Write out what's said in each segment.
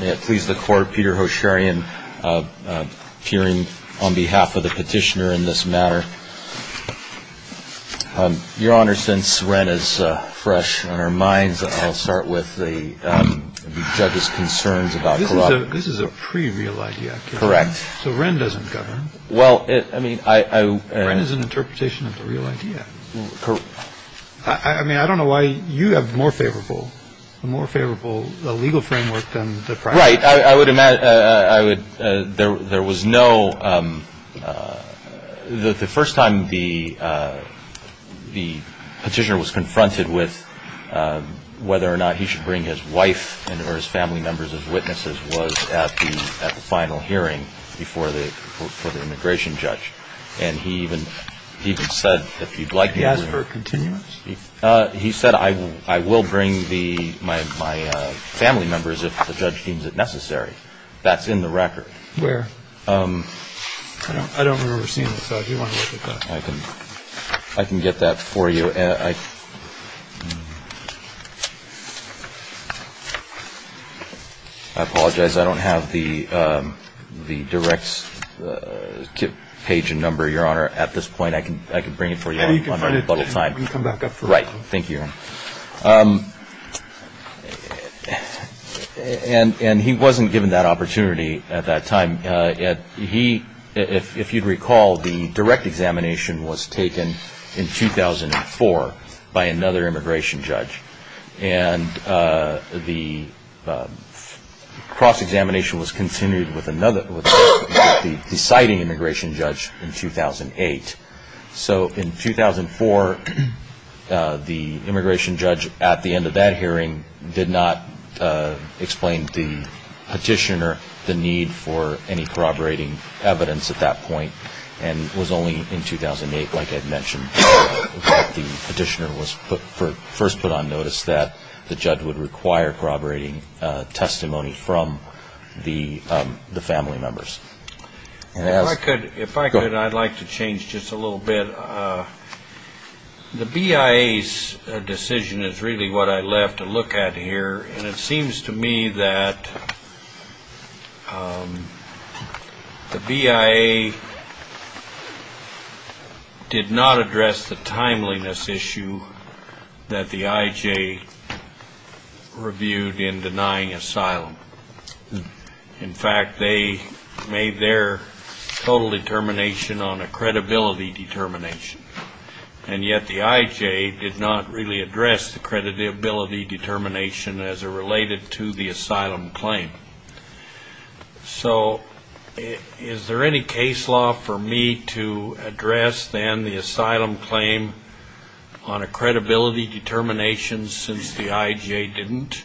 May it please the Court, Peter Hosharian, peering on behalf of the petitioner in this matter. Your Honor, since Wren is fresh on our minds, I'll start with the judge's concerns about corruption. This is a pre-real idea. Correct. So Wren doesn't govern. Well, it, I mean, I Wren is an interpretation of the real idea. Correct. I mean, I don't know why you have more favorable, a more favorable legal framework than the primary. Right. I would imagine, I would, there was no, the first time the petitioner was confronted with whether or not he should bring his wife or his family members as witnesses was at the final hearing before the immigration judge. And he even said if you'd like me to bring He said I will bring my family members if the judge deems it necessary. That's in the record. Where? I don't remember seeing it, so if you want to look at that. I can get that for you. I apologize. I don't have the direct page and number, Your Honor. At this point, I can bring it for you on a little time. We can come back up. Right. Thank you, Your Honor. And he wasn't given that opportunity at that time. He, if you'd recall, the direct examination was taken in 2004 by another immigration judge. And the cross-examination was continued with another, with the deciding immigration judge in 2008. So in 2004, the immigration judge at the end of that hearing did not explain to the petitioner the need for any corroborating evidence And it was only in 2008, like Ed mentioned, that the petitioner was first put on notice that the judge would require corroborating testimony from the family members. If I could, I'd like to change just a little bit. The BIA's decision is really what I left to look at here. And it seems to me that the BIA did not address the timeliness issue that the IJ reviewed in denying asylum. In fact, they made their total determination on a credibility determination. And yet the IJ did not really address the credibility determination as it related to the asylum claim. So is there any case law for me to address then the asylum claim on a credibility determination since the IJ didn't?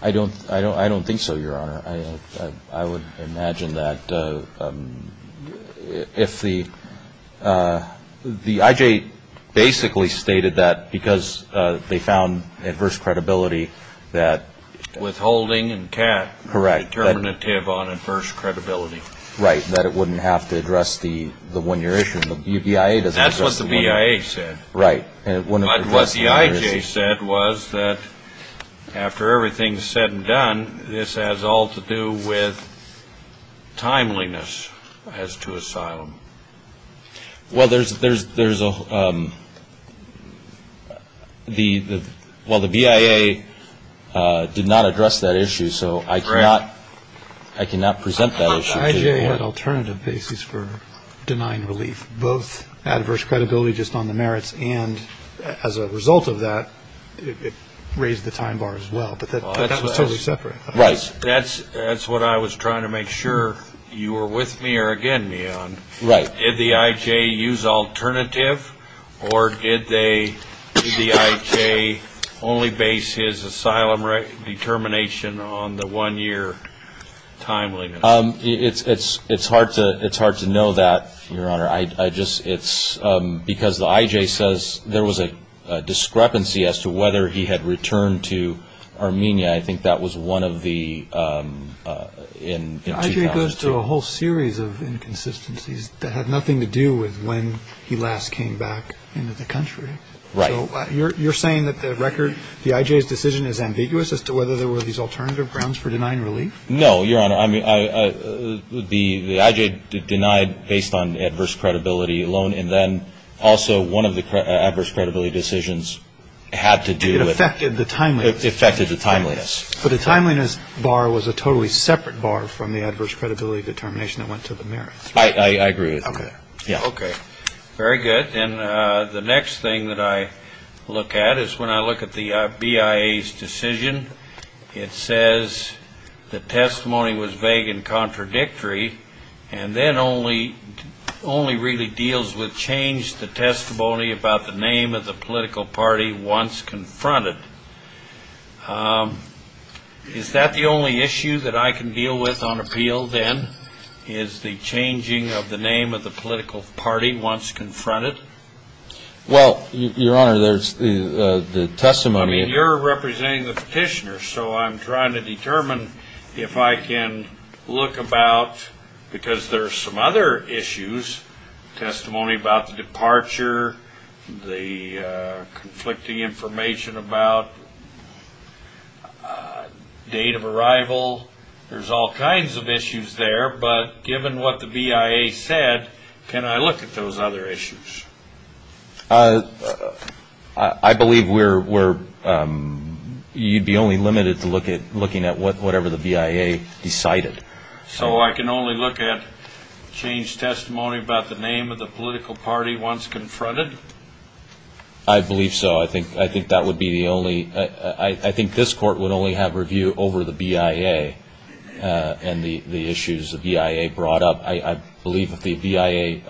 I don't think so, Your Honor. I would imagine that if the IJ basically stated that because they found adverse credibility that... Withholding and Kat are determinative on adverse credibility. Right, that it wouldn't have to address the one-year issue. That's what the BIA said. Right. But what the IJ said was that after everything's said and done, this has all to do with timeliness as to asylum. Well, there's a... Well, the BIA did not address that issue, so I cannot present that issue to you. The IJ had alternative basis for denying relief, both adverse credibility just on the merits, and as a result of that, it raised the time bar as well, but that was totally separate. Right. That's what I was trying to make sure you were with me or against me on. Right. Did the IJ use alternative, or did the IJ only base his asylum determination on the one-year timeliness? It's hard to know that, Your Honor, because the IJ says there was a discrepancy as to whether he had returned to Armenia. I think that was one of the... The IJ goes through a whole series of inconsistencies that had nothing to do with when he last came back into the country. Right. You're saying that the record, the IJ's decision is ambiguous as to whether there were these alternative grounds for denying relief? No, Your Honor. I mean, the IJ denied based on adverse credibility alone, and then also one of the adverse credibility decisions had to do with... It affected the timeliness. It affected the timeliness. But the timeliness bar was a totally separate bar from the adverse credibility determination that went to the merits. I agree with you. Okay. Yeah. Okay. Very good. And the next thing that I look at is when I look at the BIA's decision, it says the testimony was vague and contradictory, and then only really deals with change the testimony about the name of the political party once confronted. Is that the only issue that I can deal with on appeal, then, is the changing of the name of the political party once confronted? Well, Your Honor, there's the testimony... I mean, you're representing the petitioner, so I'm trying to determine if I can look about... date of arrival. There's all kinds of issues there, but given what the BIA said, can I look at those other issues? I believe you'd be only limited to looking at whatever the BIA decided. So I can only look at change testimony about the name of the political party once confronted? I believe so. I think that would be the only... I think this Court would only have review over the BIA and the issues the BIA brought up. I believe if the BIA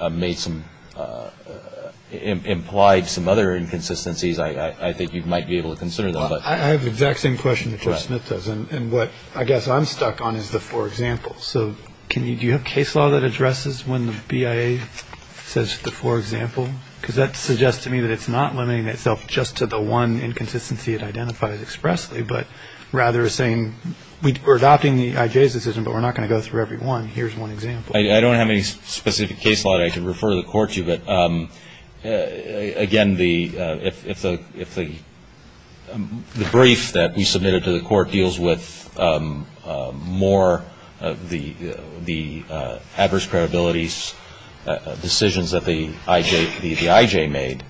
implied some other inconsistencies, I think you might be able to consider them. Well, I have the exact same question that Judge Smith does, and what I guess I'm stuck on is the four examples. So do you have case law that addresses when the BIA says the four examples? Because that suggests to me that it's not limiting itself just to the one inconsistency it identifies expressly, but rather saying we're adopting the IJ's decision, but we're not going to go through every one. Here's one example. I don't have any specific case law that I can refer the Court to, but, again, if the brief that we submitted to the Court deals with more of the adverse credibility decisions that the IJ made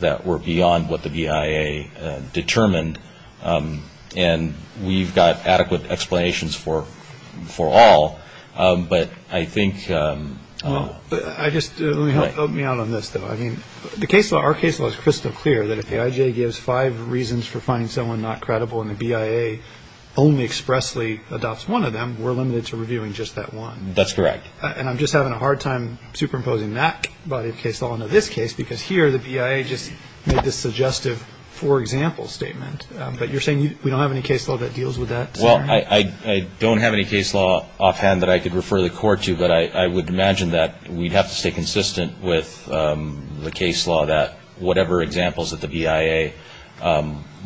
that were beyond what the BIA determined, and we've got adequate explanations for all, but I think... Help me out on this, though. I mean, our case law is crystal clear that if the IJ gives five reasons for finding someone not credible and the BIA only expressly adopts one of them, we're limited to reviewing just that one. That's correct. And I'm just having a hard time superimposing that body of case law into this case, because here the BIA just made this suggestive four-example statement. But you're saying we don't have any case law that deals with that? Well, I don't have any case law offhand that I could refer the Court to, but I would imagine that we'd have to stay consistent with the case law that whatever examples that the BIA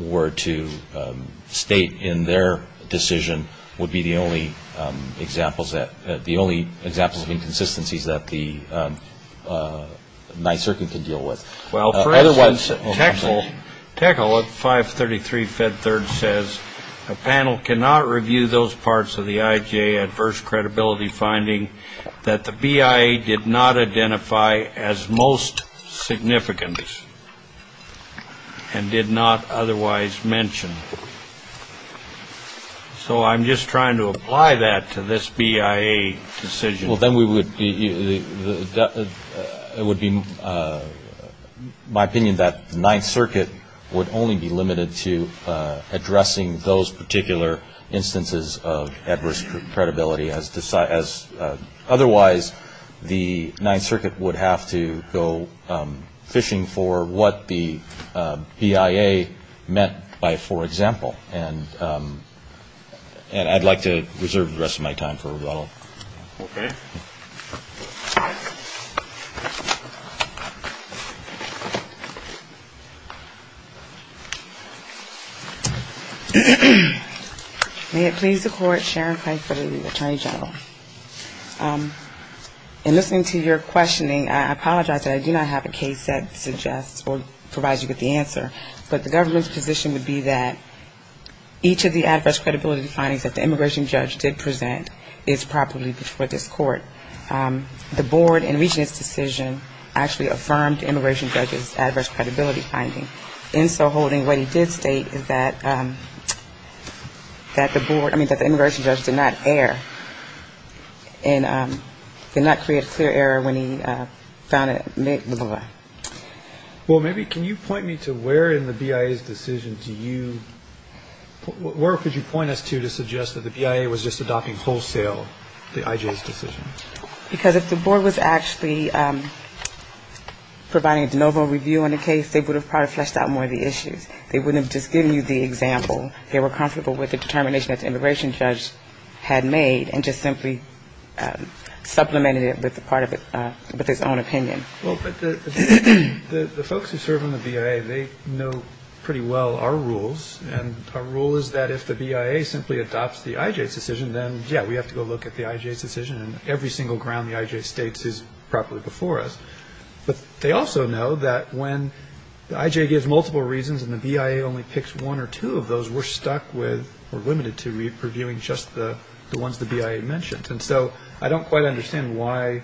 were to state in their decision would be the only examples of inconsistencies that the nyserkin could deal with. Well, for instance, Techl at 533 Fed Third says, a panel cannot review those parts of the IJ adverse credibility finding that the BIA did not identify as most significant and did not otherwise mention. So I'm just trying to apply that to this BIA decision. Well, then it would be my opinion that the Ninth Circuit would only be limited to addressing those particular instances of adverse credibility. Otherwise, the Ninth Circuit would have to go fishing for what the BIA meant by four-example. And I'd like to reserve the rest of my time for rebuttal. Okay. May it please the Court, Sharon Pike for the Attorney General. In listening to your questioning, I apologize that I do not have a case that suggests or provides you with the answer. But the government's position would be that each of the adverse credibility findings that the immigration judge did present is properly before this court. The board, in reaching its decision, actually affirmed the immigration judge's adverse credibility finding. In so holding, what he did state is that the board, I mean, that the immigration judge did not err, and did not create a clear error when he found it, blah, blah, blah. Well, maybe can you point me to where in the BIA's decision do you, where could you point us to to suggest that the BIA was just adopting wholesale the IJ's decision? Because if the board was actually providing a de novo review on the case, they would have probably fleshed out more of the issues. They wouldn't have just given you the example. They were comfortable with the determination that the immigration judge had made, and just simply supplemented it with a part of it, with his own opinion. Well, but the folks who serve on the BIA, they know pretty well our rules. And our rule is that if the BIA simply adopts the IJ's decision, then, yeah, we have to go look at the IJ's decision, and every single ground the IJ states is properly before us. But they also know that when the IJ gives multiple reasons and the BIA only picks one or two of those, we're stuck with or limited to reviewing just the ones the BIA mentions. And so I don't quite understand why,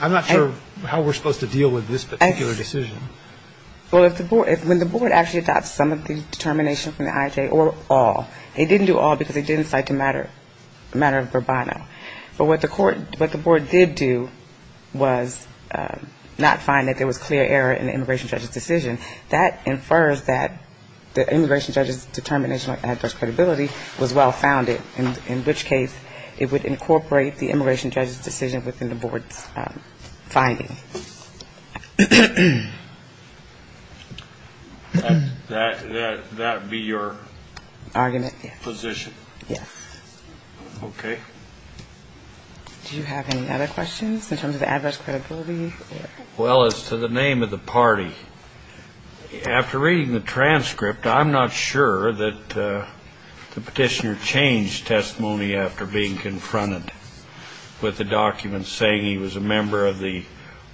I'm not sure how we're supposed to deal with this particular decision. Well, if the board, when the board actually adopts some of the determination from the IJ or all, it didn't do all because it didn't cite the matter of Bourbano. But what the court, what the board did do was not find that there was clear error in the immigration judge's decision. That infers that the immigration judge's determination on adverse credibility was well-founded, in which case it would incorporate the immigration judge's decision within the board's finding. That would be your position? Yes. Okay. Do you have any other questions in terms of adverse credibility? Well, as to the name of the party, after reading the transcript, I'm not sure that the petitioner changed testimony after being confronted with the document saying he was a member of the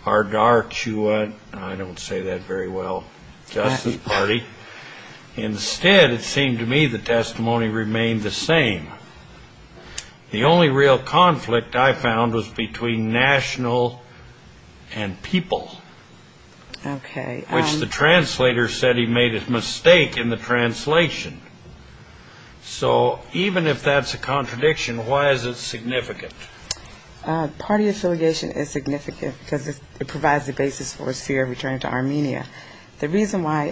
Ardarchua, I don't say that very well, Justice Party. Instead, it seemed to me the testimony remained the same. The only real conflict I found was between national and people, which the translator said he made a mistake in the translation. So even if that's a contradiction, why is it significant? Party affiliation is significant because it provides the basis for his fear of returning to Armenia. The reason why,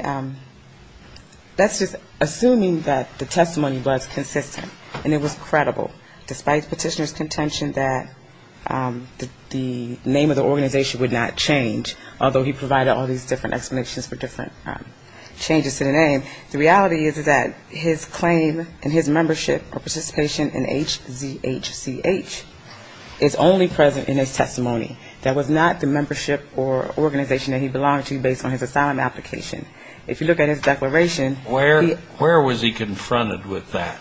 that's just assuming that the testimony was consistent and it was credible, despite petitioner's contention that the name of the organization would not change, although he provided all these different explanations for different changes to the name. The reality is that his claim and his membership or participation in HZHCH is only present in his testimony. That was not the membership or organization that he belonged to based on his asylum application. If you look at his declaration... Where was he confronted with that?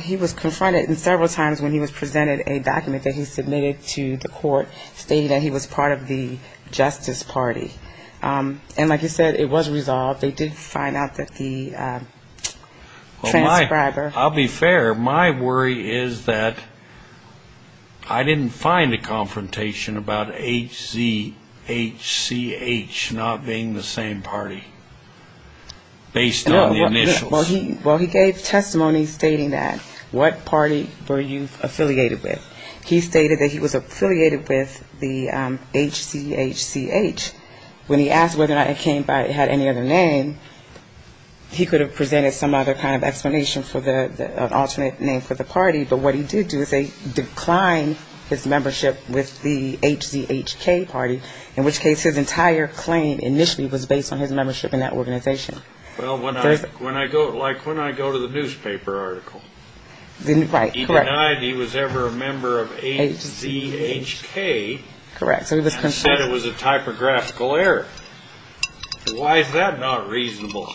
He was confronted several times when he was presented a document that he submitted to the court stating that he was part of the Justice Party. And like you said, it was resolved. They did find out that the transcriber... I'll be fair. My worry is that I didn't find a confrontation about HZHCH not being the same party based on the initials. Well, he gave testimony stating that. What party were you affiliated with? He stated that he was affiliated with the HZHCH. When he asked whether or not it came by it had any other name, he could have presented some other kind of explanation for the alternate name for the party, but what he did do is decline his membership with the HZHK party, in which case his entire claim initially was based on his membership in that organization. Well, when I go to the newspaper article, he denied he was ever a member of HZHK and said it was a typographical error. Why is that not reasonable?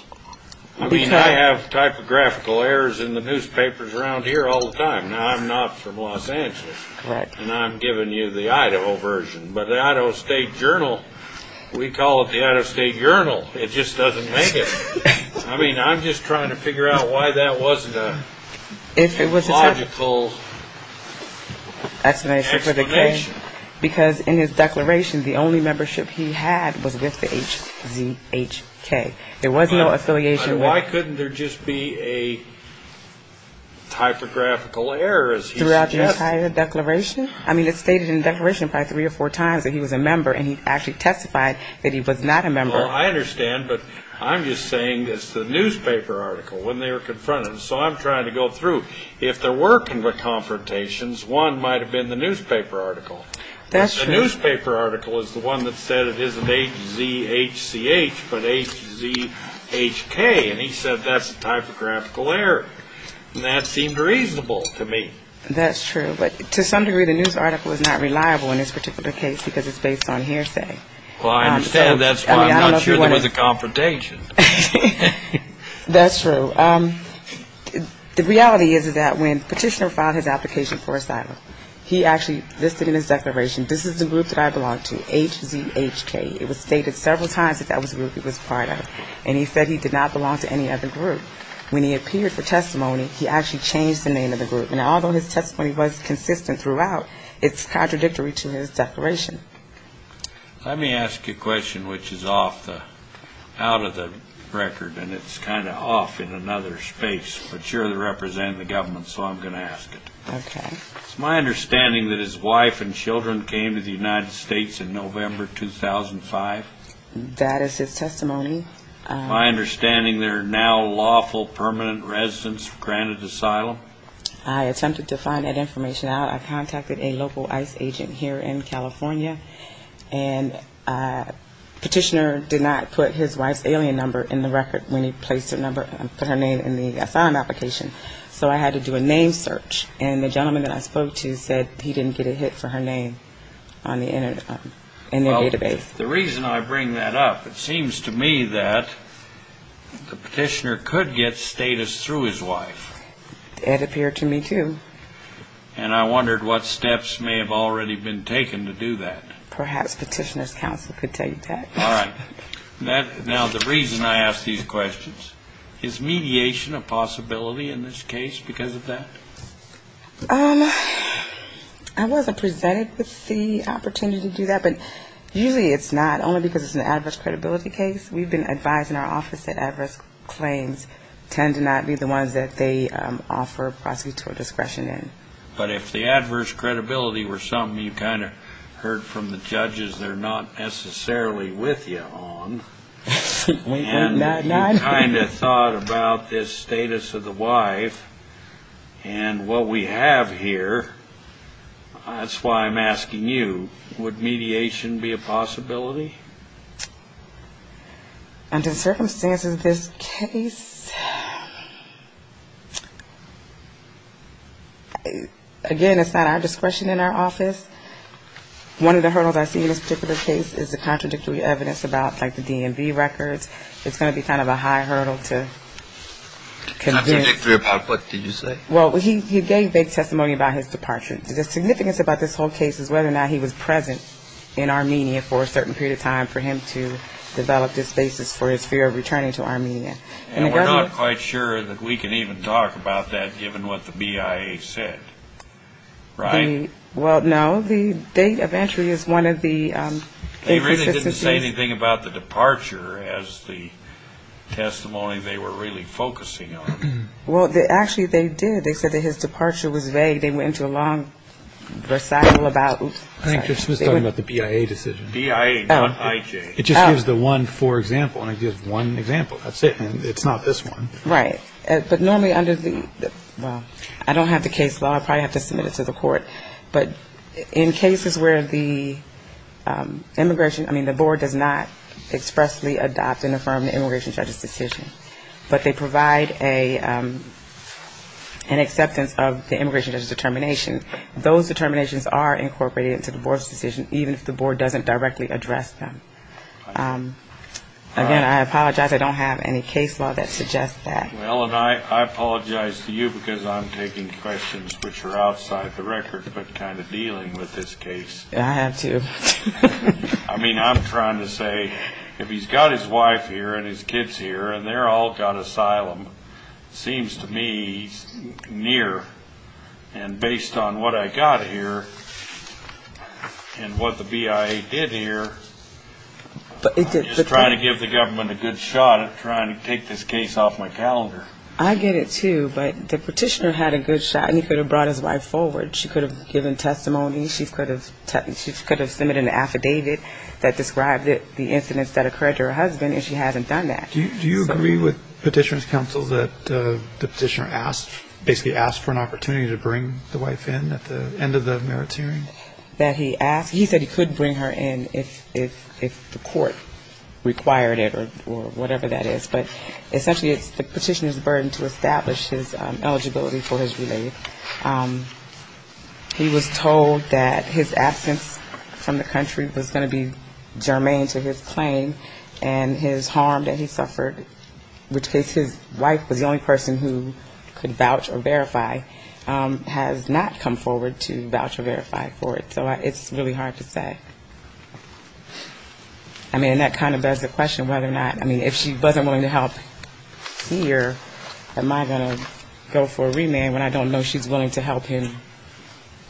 I mean, I have typographical errors in the newspapers around here all the time. Now, I'm not from Los Angeles, and I'm giving you the Idaho version, but the Idaho State Journal, we call it the Idaho State Journal. It just doesn't make it. I mean, I'm just trying to figure out why that wasn't a logical explanation. Because in his declaration, the only membership he had was with the HZHK. There was no affiliation with them. But why couldn't there just be a typographical error, as he suggested? Throughout the entire declaration? I mean, it's stated in the declaration probably three or four times that he was a member, and he actually testified that he was not a member. Well, I understand, but I'm just saying it's the newspaper article when they were confronted. So I'm trying to go through. If they're working with confrontations, one might have been the newspaper article. The newspaper article is the one that said it isn't HZHCH, but HZHK, and he said that's a typographical error, and that seemed reasonable to me. That's true, but to some degree, the news article is not reliable in this particular case, because it's based on hearsay. Well, I understand that's why I'm not sure there was a confrontation. That's true. He actually listed in his declaration, this is the group that I belong to, HZHK. It was stated several times that that was the group he was part of, and he said he did not belong to any other group. When he appeared for testimony, he actually changed the name of the group, and although his testimony was consistent throughout, it's contradictory to his declaration. Let me ask you a question which is off the record, and it's kind of off in another space, but you're the representative of the government, so I'm going to ask it. Okay. It's my understanding that his wife and children came to the United States in November 2005. That is his testimony. My understanding they're now lawful permanent residents of Granite Asylum. I attempted to find that information out. I contacted a local ICE agent here in California, and the petitioner did not put his wife's alien number in the record when he placed her name in the asylum application, so I had to do a name search, and the gentleman that I spoke to said he didn't get a hit for her name in their database. Well, the reason I bring that up, it seems to me that the petitioner could get status through his wife. It appeared to me, too. And I wondered what steps may have already been taken to do that. Perhaps petitioner's counsel could tell you that. Now, the reason I ask these questions, is mediation a possibility in this case because of that? I wasn't presented with the opportunity to do that, but usually it's not, only because it's an adverse credibility case. We've been advised in our office that adverse claims tend to not be the ones that they offer prosecutor discretion in. But if the adverse credibility were something you kind of heard from the judges they're not necessarily with you on, and you kind of thought about this status of the wife and what we have here, that's why I'm asking you. Would mediation be a possibility? Under the circumstances of this case, again, it's not our discretion in our office. One of the hurdles I see in this particular case is the contradictory evidence about like the DMV records. It's going to be kind of a high hurdle to convince. Contradictory about what, did you say? Well, he gave testimony about his departure. The significance about this whole case is whether or not he was present in Armenia for a certain period of time for him to develop this basis for his fear of returning to Armenia. And we're not quite sure that we can even talk about that given what the BIA said, right? Well, no, the date of entry is one of the inconsistencies. They really didn't say anything about the departure as the testimony they were really focusing on. Well, actually, they did. They said that his departure was vague. They went into a long recital about the BIA decision. It just gives the one for example, and it gives one example. That's it. I mean, it's not this one. Right. But normally under the, well, I don't have the case law. I probably have to submit it to the court. But in cases where the immigration, I mean, the board does not expressly adopt and affirm the immigration judge's decision, but they provide an acceptance of the immigration judge's determination. Those determinations are incorporated into the board's decision, even if the board doesn't directly address them. Again, I apologize, I don't have any case law that suggests that. Well, and I apologize to you, because I'm taking questions which are outside the record, but kind of dealing with this case. I have to. I mean, I'm trying to say, if he's got his wife here and his kids here, and they're all got asylum, seems to me near. And based on what I got here, and what the BIA did here, I'm just trying to give the government a good shot at trying to take this case off my calendar. I get it, too, but the petitioner had a good shot, and he could have brought his wife forward. She could have given testimony. She could have submitted an affidavit that described the incidents that occurred to her husband, and she hasn't done that. Do you agree with petitioner's counsel that the petitioner asked, basically asked for an opportunity to bring the wife in at the end of the merits hearing? That he asked. He said he could bring her in if the court required it, or whatever that is. But essentially, it's the petitioner's burden to establish his eligibility for his relief. He was told that his absence from the country was going to be germane to his claim, and his harm that he suffered was going to be justified. In which case, his wife was the only person who could vouch or verify, has not come forward to vouch or verify for it. So it's really hard to say. I mean, and that kind of begs the question whether or not, I mean, if she wasn't willing to help here, am I going to go for a remand when I don't know she's willing to help him later?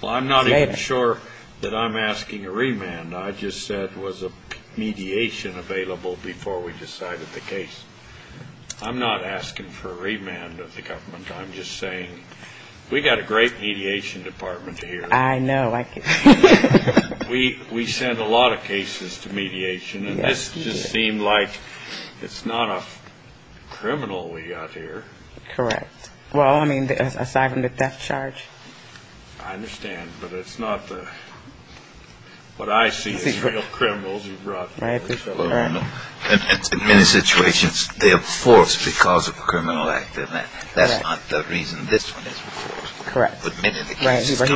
I'm not even sure that I'm asking a remand. I just said was a mediation available before we decided the case. I'm not asking for a remand of the government. I'm just saying we got a great mediation department here. We send a lot of cases to mediation, and this just seemed like it's not a criminal we got here. Correct. Well, I mean, aside from the death charge. I understand, but it's not the, what I see as real criminals you brought forward. In many situations, they are forced because of a criminal act. That's not the reason this one is enforced. Correct. Right. So I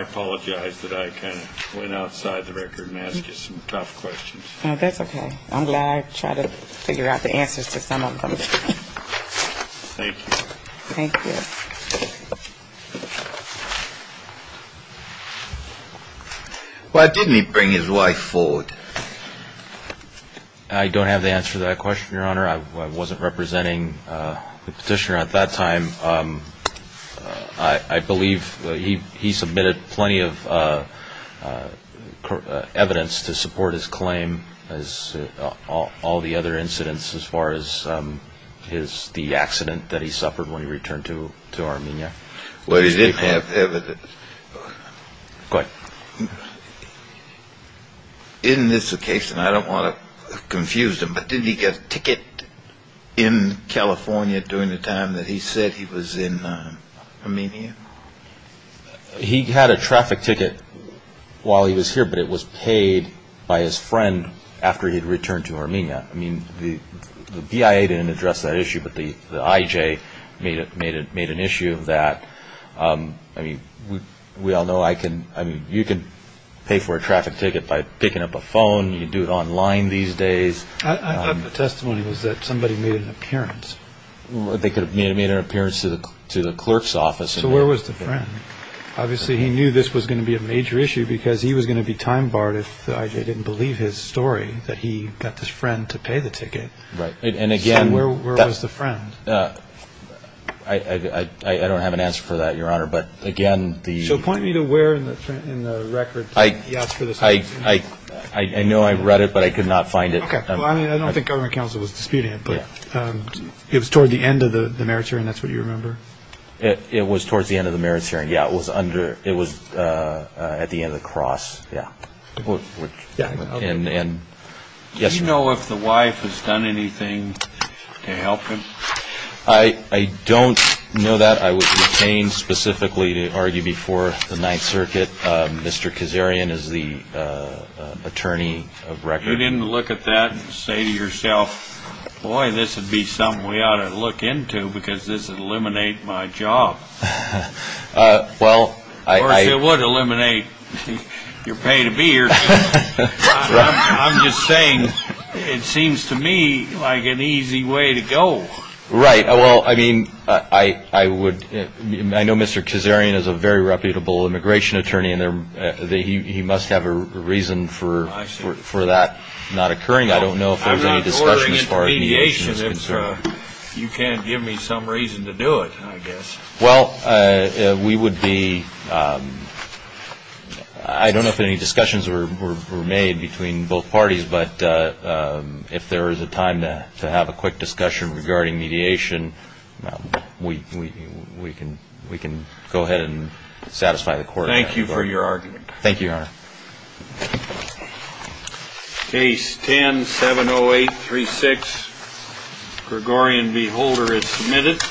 apologize that I kind of went outside the record and asked you some tough questions. That's okay. I'm glad I tried to figure out the answers to some of them. Thank you. Thank you. Why didn't he bring his wife forward? I don't have the answer to that question, Your Honor. I wasn't representing the petitioner at that time. I believe he submitted plenty of evidence to support his claim, all the other incidents as far as the accident that he suffered when he returned to Armenia. Well, he didn't have evidence. In this occasion, I don't want to confuse him, but did he get a ticket in California during the time that he said he was in Armenia? He had a traffic ticket while he was here, but it was paid by his friend after he had returned to Armenia. I mean, the BIA didn't address that issue, but the IJ made an issue of that. I mean, we all know you can pay for a traffic ticket by picking up a phone. You can do it online these days. I thought the testimony was that somebody made an appearance. They could have made an appearance to the clerk's office. So where was the friend? Obviously, he knew this was going to be a major issue because he was going to be time-barred if the IJ didn't believe his story that he got this friend to pay the ticket. So where was the friend? I don't have an answer for that, Your Honor. I know I read it, but I could not find it. I mean, I don't think government counsel was disputing it, but it was toward the end of the merits hearing, that's what you remember? It was towards the end of the merits hearing. Yeah, it was at the end of the cross. Do you know if the wife has done anything to help him? I don't know that. I would retain specifically to argue before the Ninth Circuit. Mr. Kazarian is the attorney of record. You didn't look at that and say to yourself, boy, this would be something we ought to look into because this would eliminate my job. Of course, it would eliminate your pay to be here. I'm just saying it seems to me like an easy way to go. Right. I know Mr. Kazarian is a very reputable immigration attorney, and he must have a reason for that not occurring. I don't know if there was any discussion as far as mediation is concerned. You can't give me some reason to do it, I guess. I don't know if any discussions were made between both parties, but if there is a time to have a quick discussion regarding mediation, we can go ahead and satisfy the court. Thank you for your argument. Case 10-70836. Gregorian v. Holder is submitted.